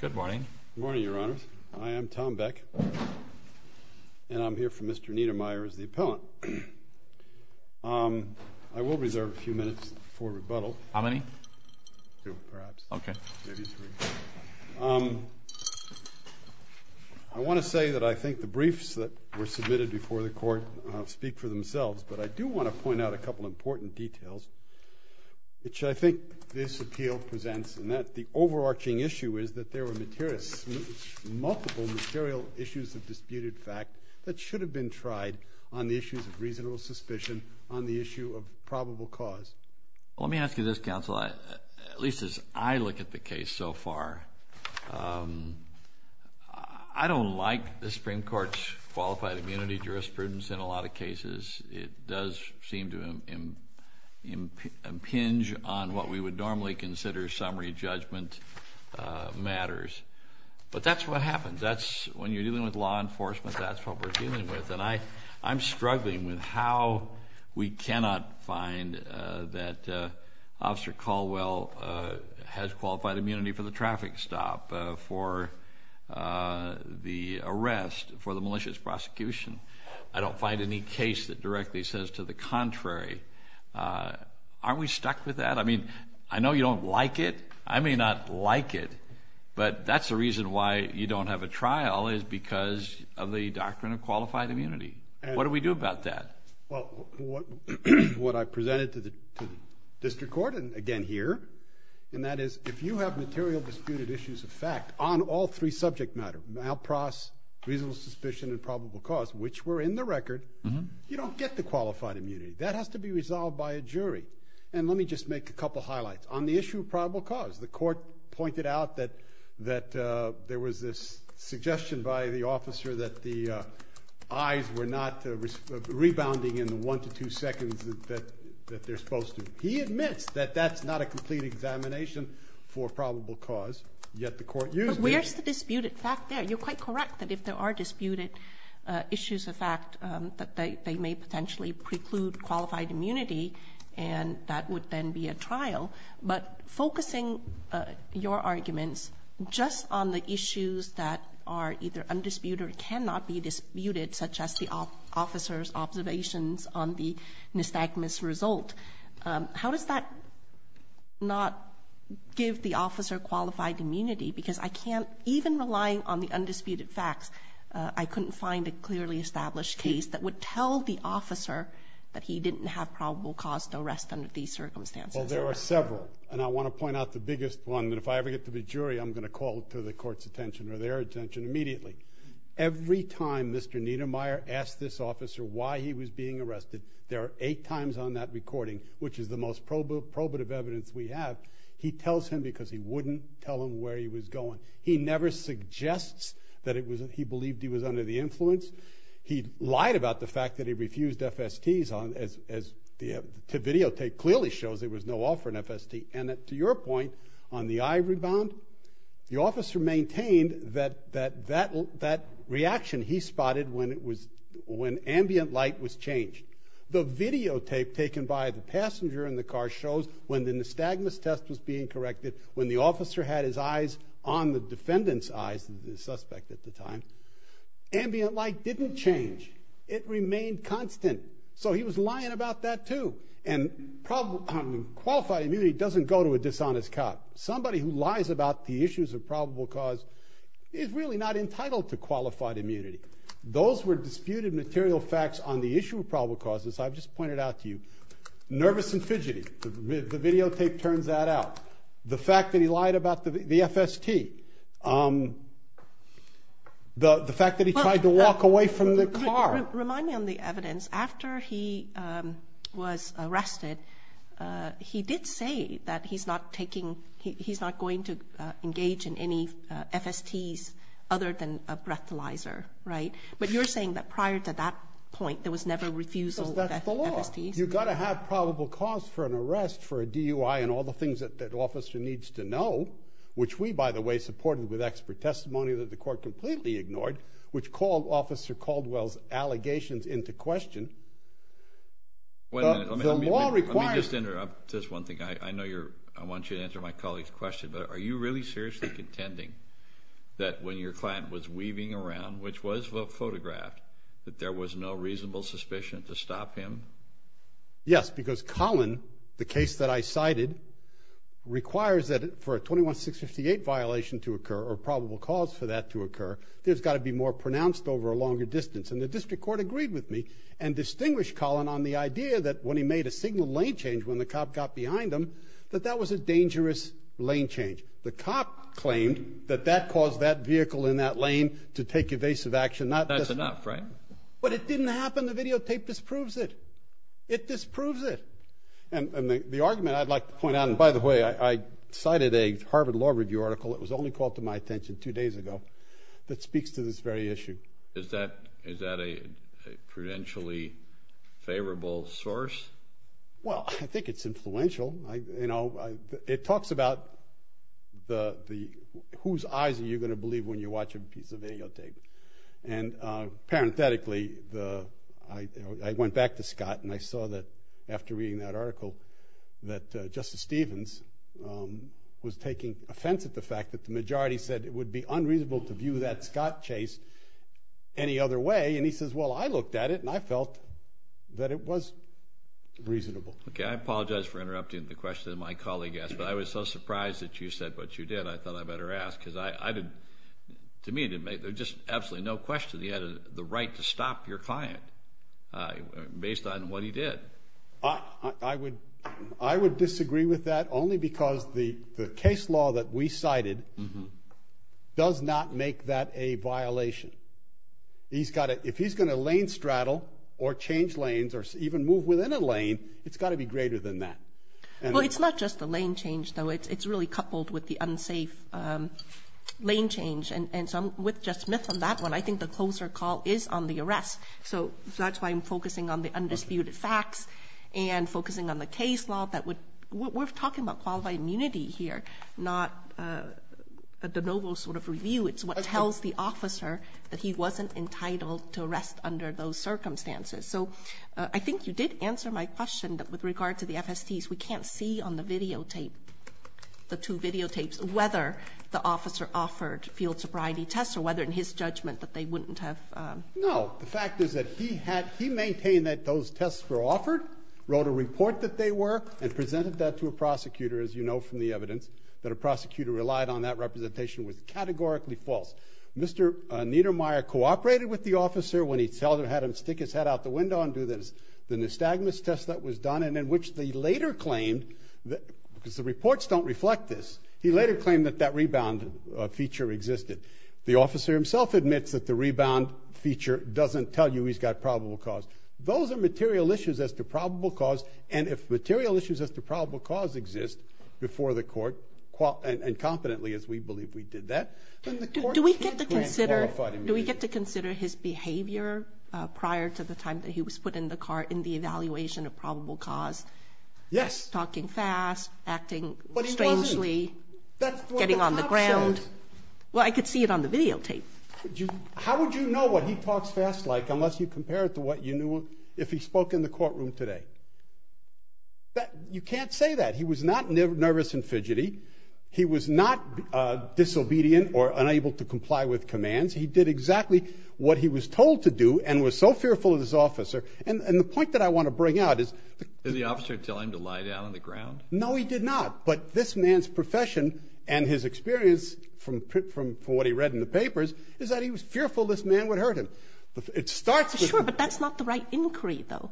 Good morning. Good morning, Your Honors. I am Tom Beck, and I'm here for Mr. Neidermeyer as the appellant. I will reserve a few minutes for rebuttal. How many? Two, perhaps. Okay. Maybe three. I want to say that I think the briefs that were submitted before the Court speak for themselves, but I do want to point out a couple of important details which I think this appeal presents and that the overarching issue is that there were multiple material issues of disputed fact that should have been tried on the issues of reasonable suspicion on the issue of probable cause. Well, let me ask you this, counsel, at least as I look at the case so far, I don't like the Supreme Court's qualified immunity jurisprudence in a lot of cases. It does seem to impinge on what we would normally consider summary judgment matters. But that's what happens. That's when you're dealing with law enforcement, that's what we're dealing with. And I'm struggling with how we cannot find that Officer Caldwell has qualified immunity for the traffic stop, for the arrest, for the malicious prosecution. I don't find any case that directly says to the contrary. Aren't we stuck with that? I mean, I know you don't like it. I may not like it, but that's the reason why you don't have a trial is because of the doctrine of qualified immunity. What do we do about that? Well, what I presented to the District Court, and again here, and that is if you have material disputed issues of fact on all three subject matter, malpras, reasonable suspicion, and which were in the record, you don't get the qualified immunity. That has to be resolved by a jury. And let me just make a couple highlights. On the issue of probable cause, the Court pointed out that there was this suggestion by the officer that the eyes were not rebounding in the one to two seconds that they're supposed to. He admits that that's not a complete examination for probable cause, yet the Court used it. But where's the disputed fact there? You're quite correct that if there are disputed issues of fact, that they may potentially preclude qualified immunity, and that would then be a trial. But focusing your arguments just on the issues that are either undisputed or cannot be disputed, such as the officer's observations on the nystagmus result, how does that not give the I couldn't find a clearly established case that would tell the officer that he didn't have probable cause to arrest under these circumstances. Well, there are several, and I want to point out the biggest one, that if I ever get to the jury, I'm going to call to the Court's attention or their attention immediately. Every time Mr. Niedermeyer asked this officer why he was being arrested, there are eight times on that recording, which is the most probative evidence we have, he tells him because he wouldn't tell him where he was going. He never suggests that he believed he was under the influence. He lied about the fact that he refused FSTs, as the videotape clearly shows there was no offer in FST. And to your point on the eye rebound, the officer maintained that that reaction he spotted when ambient light was changed. The videotape taken by the passenger in the car shows when the nystagmus test was being on the defendant's eyes, the suspect at the time, ambient light didn't change. It remained constant. So he was lying about that too. And qualified immunity doesn't go to a dishonest cop. Somebody who lies about the issues of probable cause is really not entitled to qualified immunity. Those were disputed material facts on the issue of probable causes I've just pointed out to you. Nervous and fidgety. The videotape turns that out. The fact that he lied about the FST. The fact that he tried to walk away from the car. Remind me on the evidence. After he was arrested, he did say that he's not going to engage in any FSTs other than a breathalyzer, right? But you're saying that prior to that point, there was never refusal of FSTs? That's the law. You've got to have probable cause for an arrest for a DUI and all the things that an officer needs to know, which we, by the way, supported with expert testimony that the court completely ignored, which called Officer Caldwell's allegations into question. Let me just interrupt just one thing. I know I want you to answer my colleague's question, but are you really seriously contending that when your client was weaving around, which was photographed, that there was no Yes, because Collin, the case that I cited, requires that for a 21-658 violation to occur or probable cause for that to occur, there's got to be more pronounced over a longer distance. And the district court agreed with me and distinguished Collin on the idea that when he made a signal lane change when the cop got behind him, that that was a dangerous lane change. The cop claimed that that caused that vehicle in that lane to take evasive action. That's enough, right? But it didn't happen. The videotape disproves it. It disproves it. And the argument I'd like to point out, and by the way, I cited a Harvard Law Review article that was only called to my attention two days ago that speaks to this very issue. Is that a prudentially favorable source? Well, I think it's influential. It talks about whose eyes are you going to believe when you watch a piece of videotape. And parenthetically, I went back to Scott and I saw that after reading that article that Justice Stevens was taking offense at the fact that the majority said it would be unreasonable to view that Scott chase any other way. And he says, well, I looked at it and I felt that it was reasonable. Okay. I apologize for interrupting the question that my colleague asked, but I was so surprised that you said what you did, I thought I better ask. Because to me, there's just absolutely no question he had the right to stop your client based on what he did. I would disagree with that only because the case law that we cited does not make that a violation. If he's going to lane straddle or change lanes or even move within a lane, it's got to be greater than that. Well, it's not just the lane change, though. It's really coupled with the unsafe lane change. And so with Justice Smith on that one, I think the closer call is on the arrest. So that's why I'm focusing on the undisputed facts and focusing on the case law. We're talking about qualified immunity here, not a de novo sort of review. It's what tells the officer that he wasn't entitled to arrest under those circumstances. So I think you did answer my question with regard to the FSTs. We can't see on the videotape, the two videotapes, whether the officer offered field sobriety tests or whether in his judgment that they wouldn't have. No. The fact is that he maintained that those tests were offered, wrote a report that they were, and presented that to a prosecutor, as you know from the evidence, that a prosecutor relied on that representation was categorically false. Mr. Niedermeyer cooperated with the officer when he had him stick his head out the window and do the nystagmus test that was done, and in which they later claimed, because the reports don't reflect this, he later claimed that that rebound feature existed. The officer himself admits that the rebound feature doesn't tell you he's got probable cause. Those are material issues as to probable cause, and if material issues as to probable cause exist before the court, and competently, as we believe we did that, then the court can't grant qualified immunity. Do we get to consider his behavior prior to the time that he was put in the car in the evaluation of probable cause? Yes. Talking fast, acting strangely, getting on the ground? That's what the cop says. Well, I could see it on the videotape. How would you know what he talks fast like unless you compare it to what you knew if he spoke in the courtroom today? You can't say that. He was not nervous and fidgety. He was not disobedient or unable to comply with commands. He did exactly what he was told to do and was so fearful of his officer. And the point that I want to bring out is the officer telling him to lie down on the ground? No, he did not. But this man's profession and his experience from what he read in the papers is that he was fearful this man would hurt him. It starts with him. Sure, but that's not the right inquiry, though,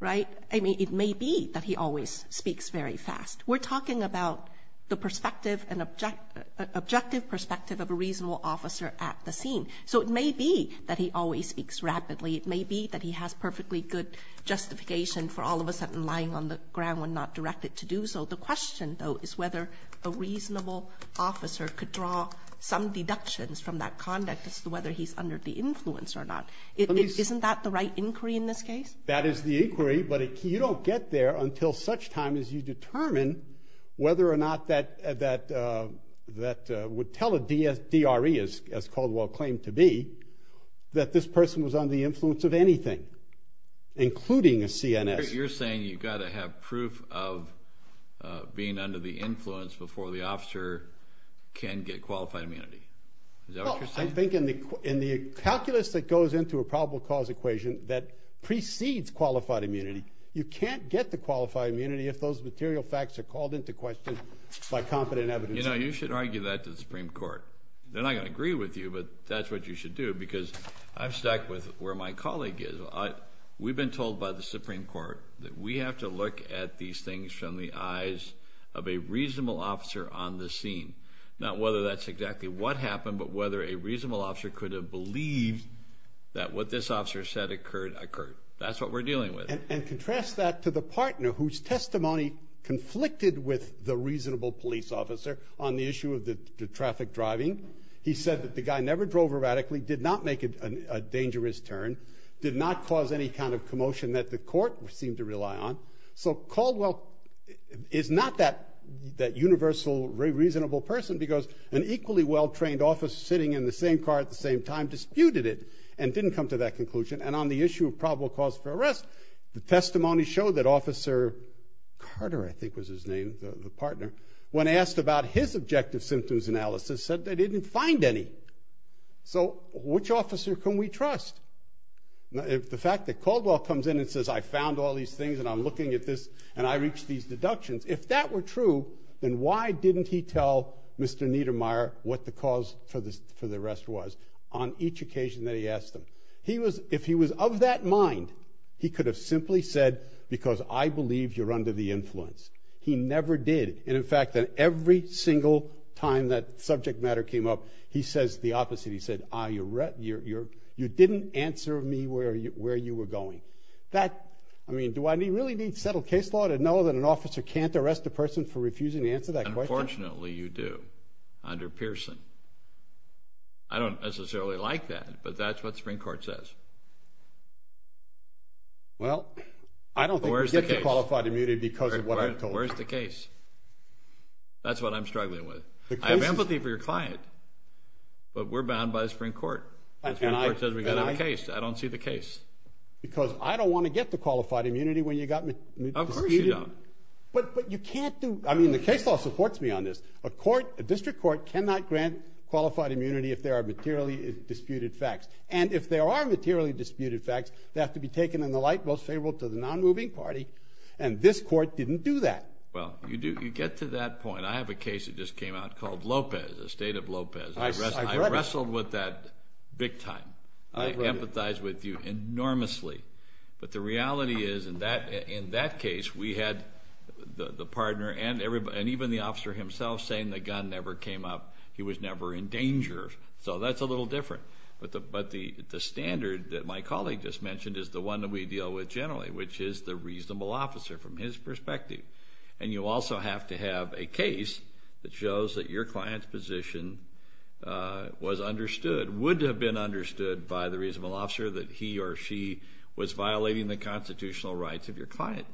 right? I mean, it may be that he always speaks very fast. We're talking about the perspective and objective perspective of a reasonable officer at the scene. So it may be that he always speaks rapidly. It may be that he has perfectly good justification for all of a sudden lying on the ground when not directed to do so. The question, though, is whether a reasonable officer could draw some deductions from that conduct as to whether he's under the influence or not. Isn't that the right inquiry in this case? That is the inquiry, but you don't get there until such time as you determine whether or not that would tell a DRE, as Caldwell claimed to be, that this person was under the influence of anything, including a CNS. You're saying you've got to have proof of being under the influence before the officer can get qualified immunity. Is that what you're saying? I think in the calculus that goes into a probable cause equation that precedes qualified immunity, you can't get to qualified immunity if those material facts are called into question by confident evidence. You know, you should argue that to the Supreme Court. They're not going to agree with you, but that's what you should do, because I've stuck with where my colleague is. We've been told by the Supreme Court that we have to look at these things from the eyes of a reasonable officer on the scene, not whether that's exactly what happened, but whether a reasonable officer could have believed that what this officer said occurred occurred. That's what we're dealing with. And contrast that to the partner whose testimony conflicted with the reasonable police officer on the issue of the traffic driving. He said that the guy never drove erratically, did not make a dangerous turn, did not cause any kind of commotion that the court seemed to rely on. So Caldwell is not that universal reasonable person because an equally well-trained officer sitting in the same car at the same time disputed it and didn't come to that conclusion. And on the issue of probable cause for arrest, the testimony showed that Officer Carter, I think was his name, the partner, when asked about his objective symptoms analysis said they didn't find any. So which officer can we trust? If the fact that Caldwell comes in and says I found all these things and I'm looking at this and I reached these deductions, if that were true, then why didn't he tell Mr. Niedermeyer what the cause for the arrest was on each occasion that he asked them? If he was of that mind, he could have simply said because I believe you're under the influence. He never did. And in fact, every single time that subject matter came up, he says the opposite. He said you didn't answer me where you were going. That, I mean, do I really need settled case law to know that an officer can't arrest a person for refusing to answer that question? Unfortunately, you do under Pearson. I don't necessarily like that, but that's what the Supreme Court says. Well, I don't think you get the qualified immunity because of what I told you. Where's the case? That's what I'm struggling with. I have empathy for your client, but we're bound by the Supreme Court. The Supreme Court says we've got to have a case. I don't see the case. Because I don't want to get the qualified immunity when you got me disputed. Of course you don't. But you can't do, I mean, the case law supports me on this. A court, a district court cannot grant qualified immunity if there are materially disputed facts. And if there are materially disputed facts, they have to be taken in the light most favorable to the non-moving party, and this court didn't do that. Well, you get to that point. I have a case that just came out called Lopez, the State of Lopez. I wrestled with that big time. I empathize with you enormously. But the reality is in that case we had the partner and even the officer himself saying the gun never came up. He was never in danger. So that's a little different. But the standard that my colleague just mentioned is the one that we deal with generally, which is the reasonable officer from his perspective. And you also have to have a case that shows that your client's position was understood, would have been understood by the reasonable officer that he or she was violating the constitutional rights of your client.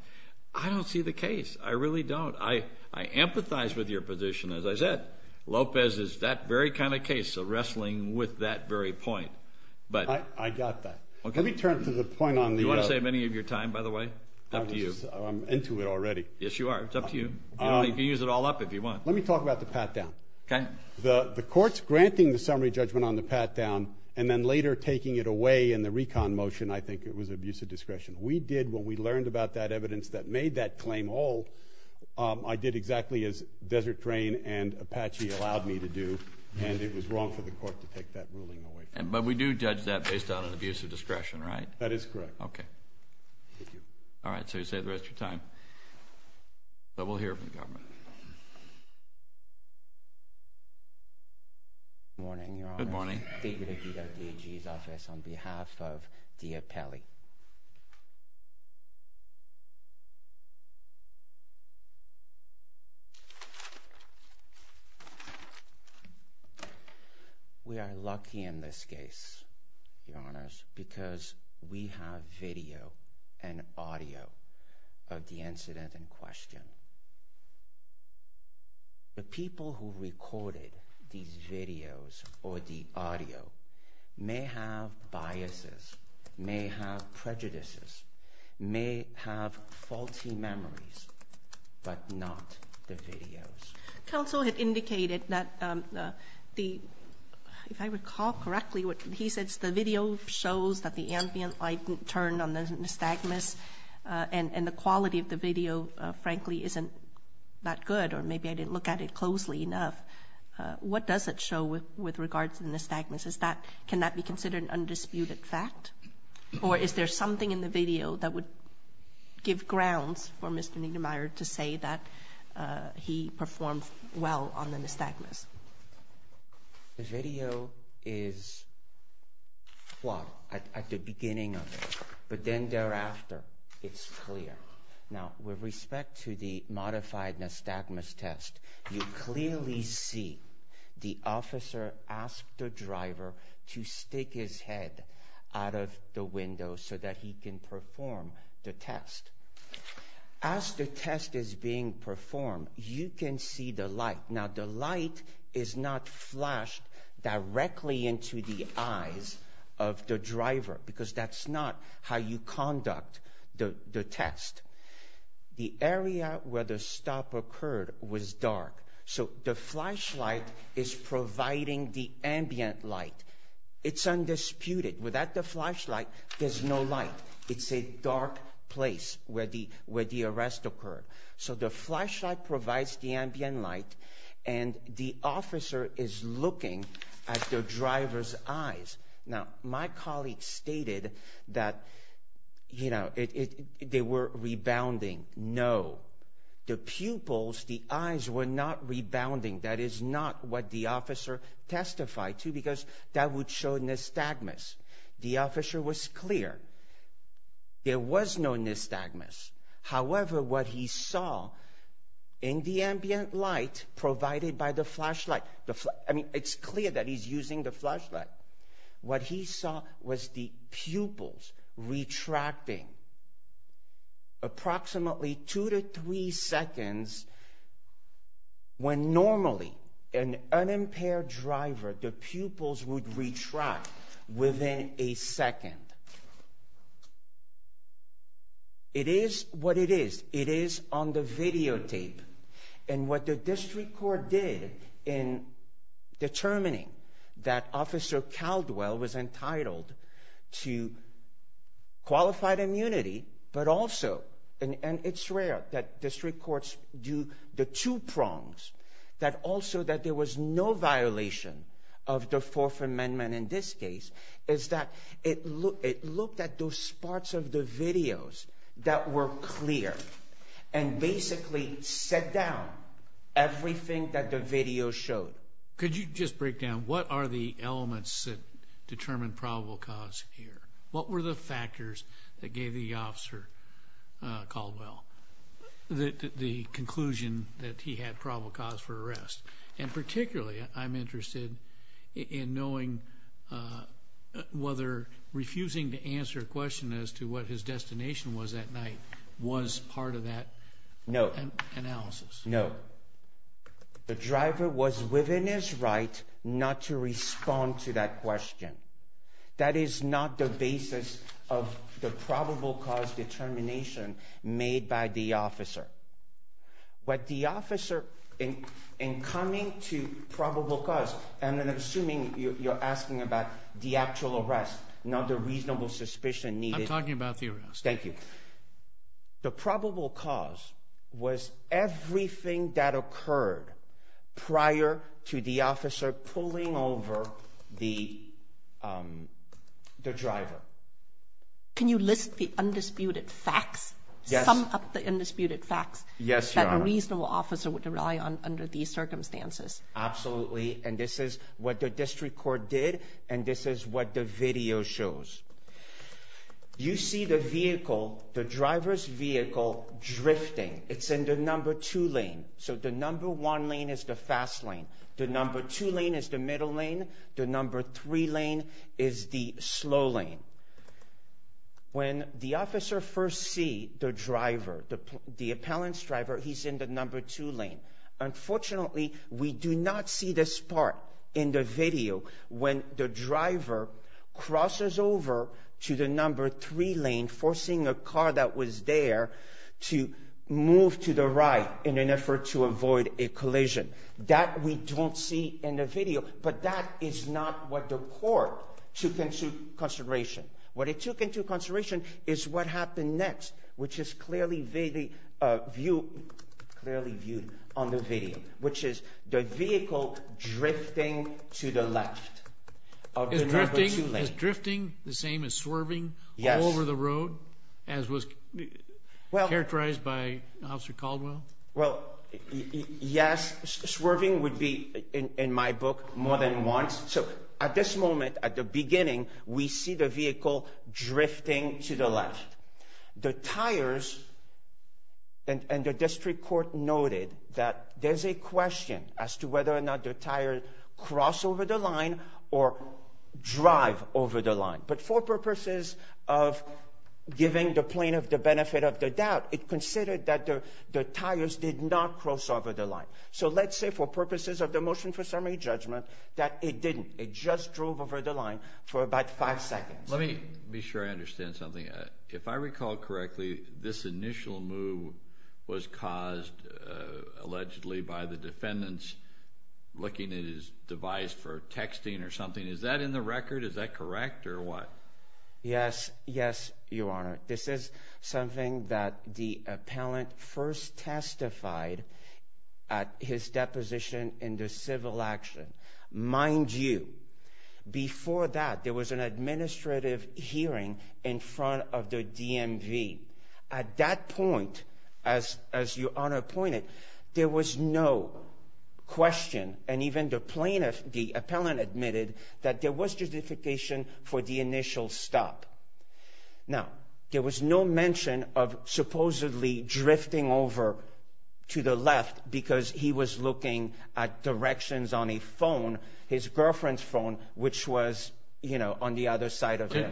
I don't see the case. I really don't. I empathize with your position. As I said, Lopez is that very kind of case of wrestling with that very point. I got that. Let me turn to the point on the other. Do you want to save any of your time, by the way? Up to you. I'm into it already. Yes, you are. It's up to you. You can use it all up if you want. Let me talk about the pat-down. Okay. The court's granting the summary judgment on the pat-down and then later taking it away in the recon motion, I think it was abuse of discretion. We did, when we learned about that evidence that made that claim whole, I did exactly as Desert Drain and Apache allowed me to do, and it was wrong for the court to take that ruling away from me. But we do judge that based on an abuse of discretion, right? That is correct. Okay. Thank you. All right. So you saved the rest of your time. But we'll hear from the government. Good morning, Your Honor. Good morning. David Agito, DAG's office, on behalf of Dia Pelli. We are lucky in this case, Your Honors, because we have video and audio of the incident in question. The people who recorded these videos or the audio may have biases, may have prejudices, may have faulty memories, but not the videos. Counsel had indicated that the, if I recall correctly, what he said is the video shows that the ambient light turned on the stagmas, and the quality of the video, frankly, isn't that good, or maybe I didn't look at it closely enough. What does it show with regards to the stagmas? Can that be considered an undisputed fact? Or is there something in the video that would give grounds for Mr. Niedermeyer to say that he performed well on the stagmas? The video is flawed at the beginning of it, but then thereafter, it's clear. Now, with respect to the modified stagmas test, you clearly see the officer asked the driver to stick his head out of the window so that he can perform the test. As the test is being performed, you can see the light. Now, the light is not flashed directly into the eyes of the driver, because that's not how you conduct the test. The area where the stop occurred was dark, so the flashlight is providing the ambient light. It's undisputed. Without the flashlight, there's no light. It's a dark place where the arrest occurred. So the flashlight provides the ambient light, and the officer is looking at the driver's eyes. Now, my colleague stated that they were rebounding. No, the pupils, the eyes were not rebounding. That is not what the officer testified to, because that would show nystagmus. The officer was clear. There was no nystagmus. However, what he saw in the ambient light provided by the flashlight, I mean, it's clear that he's using the flashlight. What he saw was the pupils retracting approximately two to three seconds when normally an unimpaired driver, the pupils would retract within a second. It is what it is. It is on the videotape. And what the district court did in determining that Officer Caldwell was entitled to qualified immunity, but also, and it's rare that district courts do the two prongs, that also that there was no violation of the Fourth Amendment in this case, is that it looked at those parts of the videos that were clear and basically set down everything that the video showed. Could you just break down, what are the elements that determine probable cause here? What were the factors that gave the officer Caldwell the conclusion that he had probable cause for arrest? And particularly, I'm interested in knowing whether refusing to answer a question as to what his destination was that night was part of that analysis. No. The driver was within his right not to respond to that question. That is not the basis of the probable cause determination made by the officer. What the officer, in coming to probable cause, and I'm assuming you're asking about the actual arrest, not the reasonable suspicion needed. I'm talking about the arrest. Thank you. The probable cause was everything that occurred prior to the officer pulling over the driver. Can you list the undisputed facts, sum up the undisputed facts that a reasonable officer would rely on under these circumstances? Absolutely, and this is what the district court did, and this is what the video shows. You see the vehicle, the driver's vehicle, drifting. It's in the number two lane, so the number one lane is the fast lane. The number two lane is the middle lane. The number three lane is the slow lane. When the officer first sees the driver, the appellant's driver, he's in the number two lane. Unfortunately, we do not see this part in the video when the driver crosses over to the number three lane, forcing a car that was there to move to the right in an effort to avoid a collision. That we don't see in the video, but that is not what the court took into consideration. What it took into consideration is what happened next, which is clearly viewed on the video, which is the vehicle drifting to the left of the number two lane. Is drifting the same as swerving all over the road, as was characterized by Officer Caldwell? Well, yes, swerving would be in my book more than once. So at this moment, at the beginning, we see the vehicle drifting to the left. The tires, and the district court noted that there's a question as to whether or not the tires cross over the line or drive over the line. But for purposes of giving the plaintiff the benefit of the doubt, it considered that the tires did not cross over the line. So let's say for purposes of the motion for summary judgment that it didn't. It just drove over the line for about five seconds. Let me be sure I understand something. If I recall correctly, this initial move was caused allegedly by the defendants looking at his device for texting or something. Is that in the record? Is that correct or what? Yes, yes, Your Honor. This is something that the appellant first testified at his deposition in the civil action. Mind you, before that, there was an administrative hearing in front of the DMV. At that point, as Your Honor pointed, there was no question, and even the plaintiff, the appellant admitted, that there was justification for the initial stop. Now, there was no mention of supposedly drifting over to the left because he was looking at directions on a phone, his girlfriend's phone, which was on the other side of him.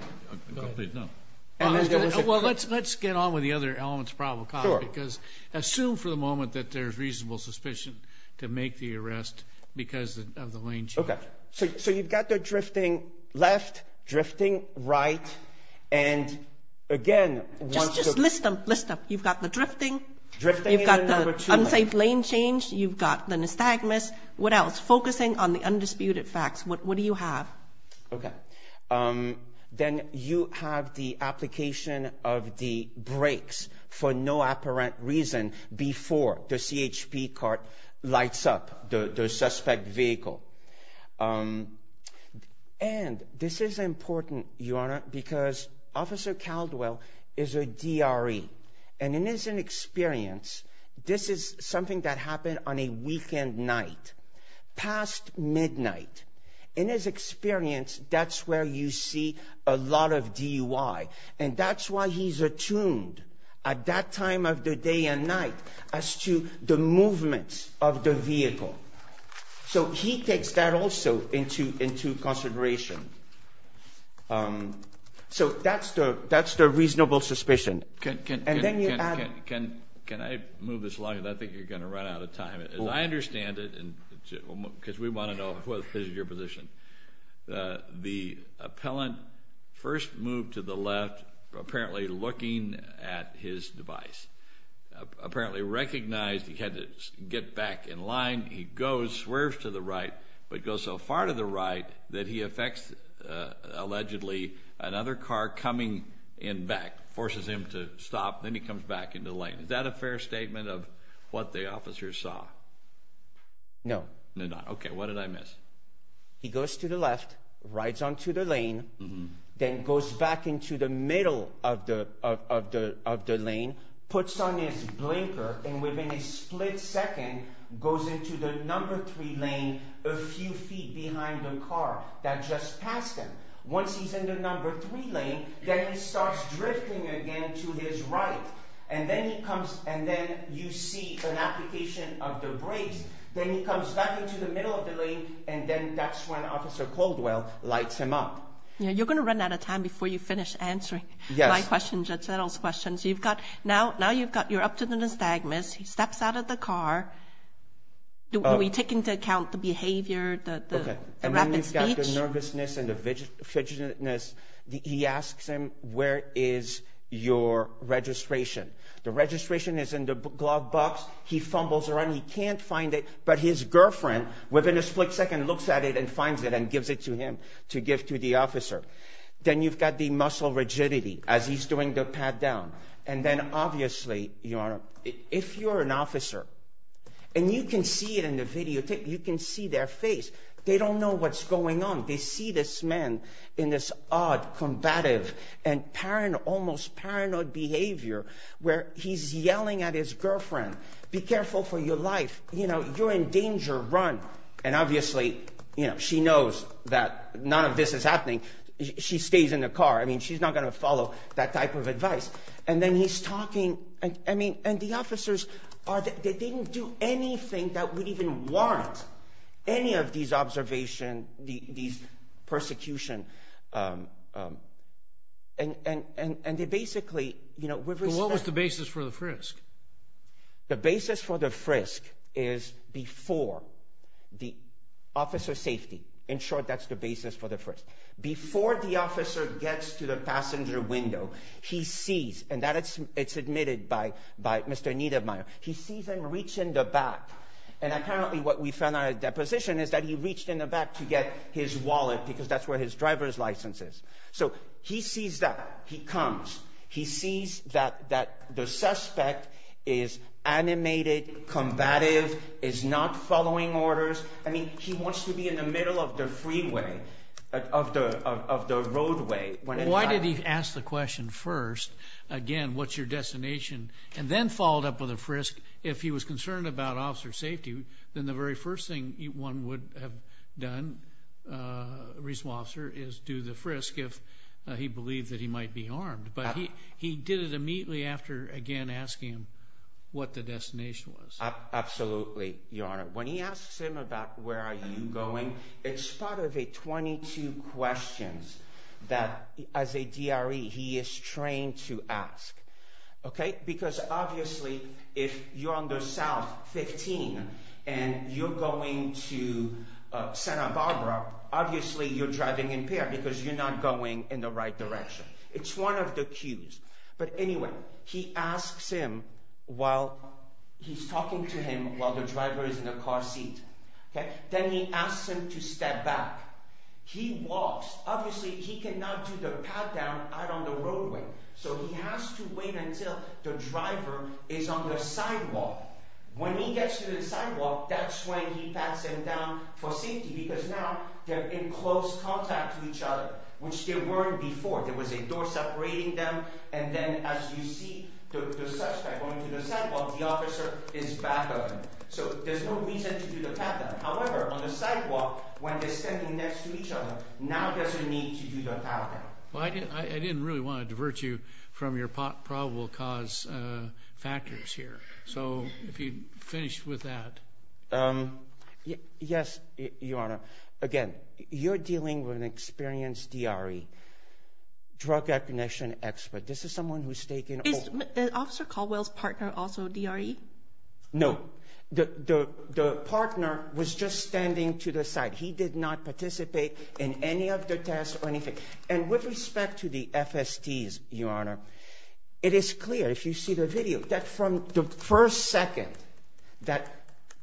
Well, let's get on with the other elements of probable cause because assume for the moment that there's reasonable suspicion to make the arrest because of the lane change. Okay. So you've got the drifting left, drifting right, and, again, once the – Just list them. List them. You've got the drifting. Drifting in number two. You've got the unsafe lane change. You've got the nystagmus. What else? Focusing on the undisputed facts. What do you have? Okay. Then you have the application of the brakes for no apparent reason before the CHP cart lights up the suspect vehicle. And this is important, Your Honor, because Officer Caldwell is a DRE, and in his experience, this is something that happened on a weekend night, past midnight. In his experience, that's where you see a lot of DUI, and that's why he's attuned at that time of the day and night as to the movement of the vehicle. So he takes that also into consideration. So that's the reasonable suspicion. And then you add – Can I move this along? I think you're going to run out of time. As I understand it, because we want to know what is your position, the appellant first moved to the left, apparently looking at his device, apparently recognized he had to get back in line. He goes, swerves to the right, but goes so far to the right that he affects, allegedly, another car coming in back, forces him to stop. Then he comes back into the lane. Is that a fair statement of what the officer saw? No. Okay, what did I miss? He goes to the left, rides onto the lane, then goes back into the middle of the lane, puts on his blinker, and within a split second goes into the number three lane a few feet behind the car that just passed him. Once he's in the number three lane, then he starts drifting again to his right. And then he comes – and then you see an application of the brakes. Then he comes back into the middle of the lane, and then that's when Officer Caldwell lights him up. You're going to run out of time before you finish answering my questions, Judge Settle's questions. You've got – now you've got – you're up to the nystagmus. He steps out of the car. Do we take into account the behavior, the rapid speech? When you've got the nervousness and the fidgetiness, he asks him, where is your registration? The registration is in the glove box. He fumbles around. He can't find it. But his girlfriend, within a split second, looks at it and finds it and gives it to him to give to the officer. Then you've got the muscle rigidity as he's doing the pat down. And then, obviously, Your Honor, if you're an officer and you can see it in the videotape, you can see their face, they don't know what's going on. They see this man in this odd, combative and almost paranoid behavior where he's yelling at his girlfriend, be careful for your life, you know, you're in danger, run. And obviously, you know, she knows that none of this is happening. She stays in the car. I mean, she's not going to follow that type of advice. And then he's talking. I mean, and the officers, they didn't do anything that would even warrant any of these observations, these persecutions. And they basically, you know. What was the basis for the frisk? The basis for the frisk is before the officer's safety. In short, that's the basis for the frisk. Before the officer gets to the passenger window, he sees, and that is admitted by Mr. Niedermeyer, he sees him reach in the back. And apparently what we found out at the deposition is that he reached in the back to get his wallet because that's where his driver's license is. So he sees that. He comes. He sees that the suspect is animated, combative, is not following orders. I mean, he wants to be in the middle of the freeway, of the roadway. Why did he ask the question first, again, what's your destination, and then followed up with a frisk if he was concerned about officer safety? Then the very first thing one would have done, a reasonable officer, is do the frisk if he believed that he might be armed. But he did it immediately after, again, asking him what the destination was. Absolutely, Your Honor. When he asks him about where are you going, it's part of a 22 questions that as a DRE he is trained to ask. Okay? Because obviously if you're on the South 15 and you're going to Santa Barbara, obviously you're driving impaired because you're not going in the right direction. It's one of the cues. But anyway, he asks him while he's talking to him while the driver is in the car seat. Then he asks him to step back. He walks. Obviously, he cannot do the pat-down out on the roadway, so he has to wait until the driver is on the sidewalk. When he gets to the sidewalk, that's when he pats him down for safety because now they're in close contact with each other, which they weren't before. There was a door separating them. And then as you see the suspect going to the sidewalk, the officer is back of him. So there's no reason to do the pat-down. However, on the sidewalk, when they're standing next to each other, now there's a need to do the pat-down. Well, I didn't really want to divert you from your probable cause factors here. So if you'd finish with that. Yes, Your Honor. Again, you're dealing with an experienced DRE, drug recognition expert. This is someone who's taken over. Is Officer Caldwell's partner also DRE? No. The partner was just standing to the side. He did not participate in any of the tests or anything. And with respect to the FSTs, Your Honor, it is clear, if you see the video, that from the first second that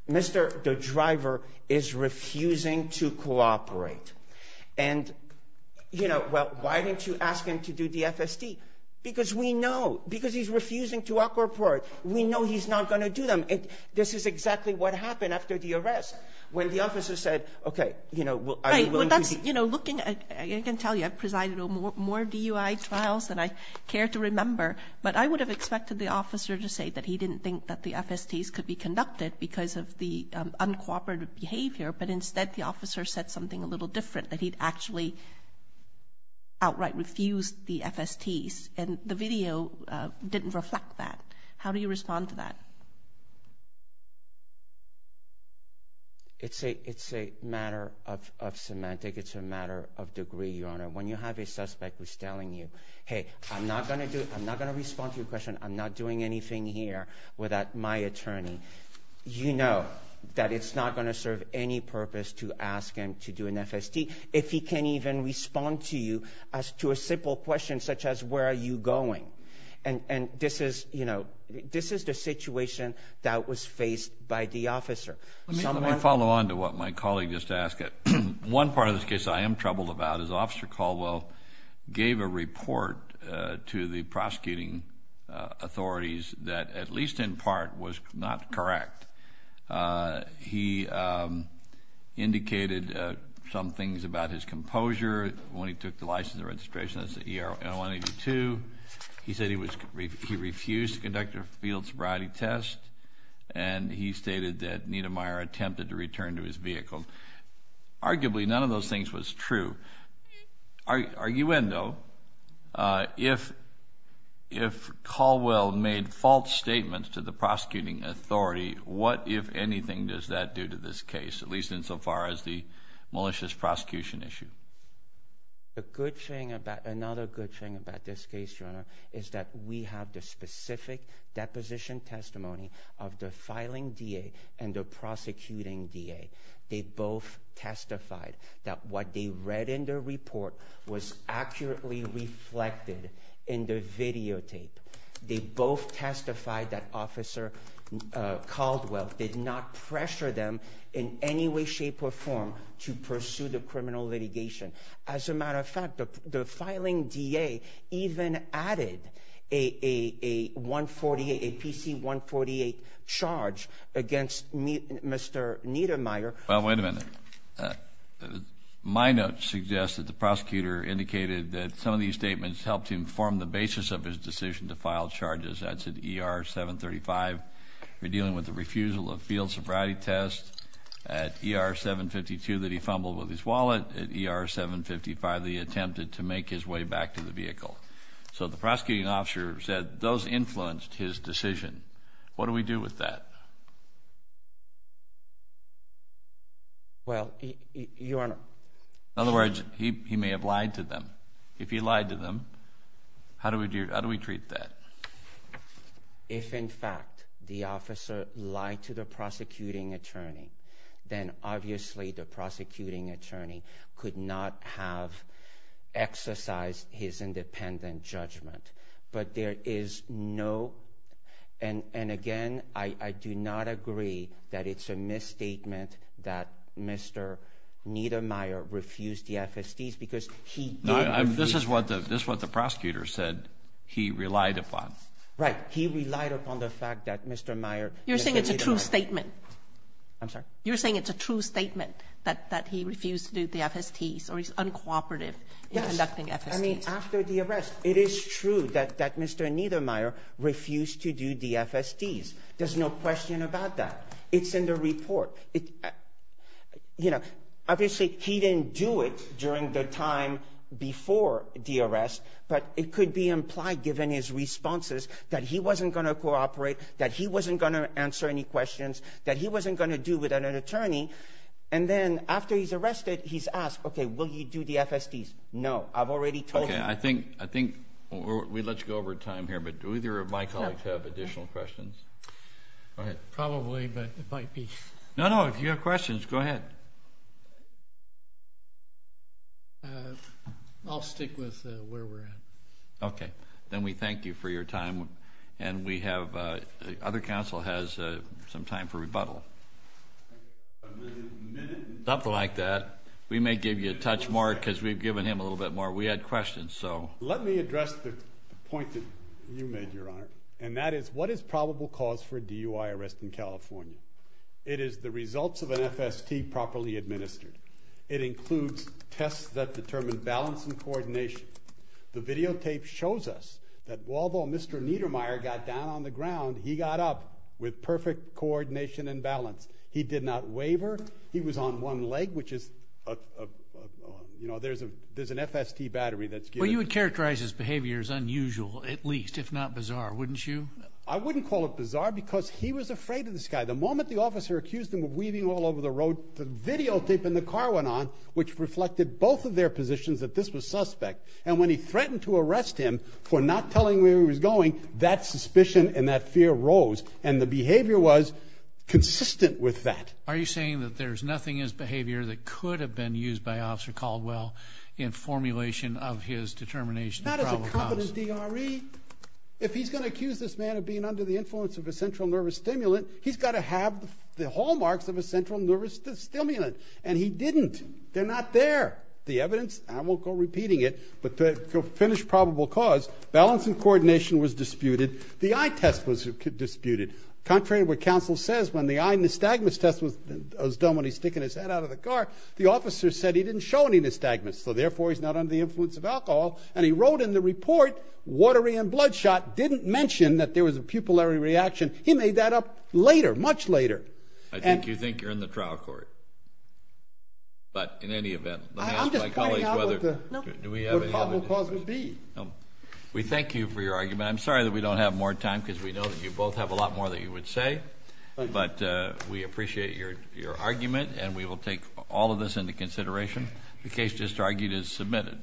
Mr. the driver is refusing to cooperate. And, you know, well, why didn't you ask him to do the FST? Because we know. Because he's refusing to cooperate. We know he's not going to do them. This is exactly what happened after the arrest when the officer said, okay, you know, are you willing to do it? Right. Well, that's, you know, looking at it, I can tell you I presided over more DUI trials than I care to remember. But I would have expected the officer to say that he didn't think that the FSTs could be conducted because of the uncooperative behavior. But instead, the officer said something a little different, that he'd actually outright refused the FSTs. And the video didn't reflect that. How do you respond to that? It's a matter of semantic. It's a matter of degree, Your Honor. When you have a suspect who's telling you, hey, I'm not going to do it. I'm not going to respond to your question. I'm not doing anything here without my attorney. You know that it's not going to serve any purpose to ask him to do an FST. If he can't even respond to you as to a simple question such as where are you going. And this is, you know, this is the situation that was faced by the officer. Let me follow on to what my colleague just asked. One part of this case I am troubled about is Officer Caldwell gave a report to the prosecuting authorities that, at least in part, was not correct. He indicated some things about his composure when he took the license and registration. That's the ERO 182. He said he refused to conduct a field sobriety test. And he stated that Niedermeyer attempted to return to his vehicle. Arguably, none of those things was true. Arguendo, if Caldwell made false statements to the prosecuting authority, what, if anything, does that do to this case? At least insofar as the malicious prosecution issue. Another good thing about this case, Your Honor, is that we have the specific deposition testimony of the filing DA and the prosecuting DA. They both testified that what they read in the report was accurately reflected in the videotape. They both testified that Officer Caldwell did not pressure them in any way, shape, or form to pursue the criminal litigation. As a matter of fact, the filing DA even added a PC-148 charge against Mr. Niedermeyer. Well, wait a minute. My notes suggest that the prosecutor indicated that some of these statements helped him form the basis of his decision to file charges. That's at ER 735, dealing with the refusal of field sobriety test. At ER 752, that he fumbled with his wallet. At ER 755, that he attempted to make his way back to the vehicle. So the prosecuting officer said those influenced his decision. What do we do with that? Well, Your Honor… In other words, he may have lied to them. If he lied to them, how do we treat that? If, in fact, the officer lied to the prosecuting attorney, then obviously the prosecuting attorney could not have exercised his independent judgment. But there is no… And again, I do not agree that it's a misstatement that Mr. Niedermeyer refused the FSTs because he did… This is what the prosecutor said he relied upon. Right. He relied upon the fact that Mr. Niedermeyer… You're saying it's a true statement. I'm sorry? You're saying it's a true statement that he refused to do the FSTs or he's uncooperative in conducting FSTs. I mean, after the arrest, it is true that Mr. Niedermeyer refused to do the FSTs. There's no question about that. It's in the report. You know, obviously, he didn't do it during the time before the arrest. But it could be implied, given his responses, that he wasn't going to cooperate, that he wasn't going to answer any questions, that he wasn't going to do without an attorney. And then after he's arrested, he's asked, okay, will you do the FSTs? No. I've already told you. Okay. I think we let you go over time here, but do either of my colleagues have additional questions? Probably, but it might be… No, no. If you have questions, go ahead. I'll stick with where we're at. Okay. Then we thank you for your time. And we have… the other counsel has some time for rebuttal. Something like that. We may give you a touch more because we've given him a little bit more. We had questions, so… Let me address the point that you made, Your Honor, and that is what is probable cause for a DUI arrest in California? It is the results of an FST properly administered. It includes tests that determine balance and coordination. The videotape shows us that although Mr. Niedermeyer got down on the ground, he got up with perfect coordination and balance. He did not waver. He was on one leg, which is, you know, there's an FST battery that's… Well, you would characterize his behavior as unusual, at least, if not bizarre, wouldn't you? I wouldn't call it bizarre because he was afraid of the sky. The moment the officer accused him of weaving all over the road, the videotape in the car went on, which reflected both of their positions that this was suspect. And when he threatened to arrest him for not telling where he was going, that suspicion and that fear rose. And the behavior was consistent with that. Are you saying that there's nothing in his behavior that could have been used by Officer Caldwell in formulation of his determination of probable cause? Not as a competent DRE. If he's going to accuse this man of being under the influence of a central nervous stimulant, he's got to have the hallmarks of a central nervous stimulant. And he didn't. They're not there. The evidence, I won't go repeating it, but to finish probable cause, balance and coordination was disputed. The eye test was disputed. Contrary to what counsel says, when the eye nystagmus test was done when he was sticking his head out of the car, the officer said he didn't show any nystagmus, so therefore he's not under the influence of alcohol. And he wrote in the report, watery and bloodshot, didn't mention that there was a pupillary reaction. He made that up later, much later. I think you think you're in the trial court. But in any event, let me ask my colleagues whether probable cause would be. We thank you for your argument. I'm sorry that we don't have more time because we know that you both have a lot more that you would say. But we appreciate your argument, and we will take all of this into consideration. The case just argued is submitted.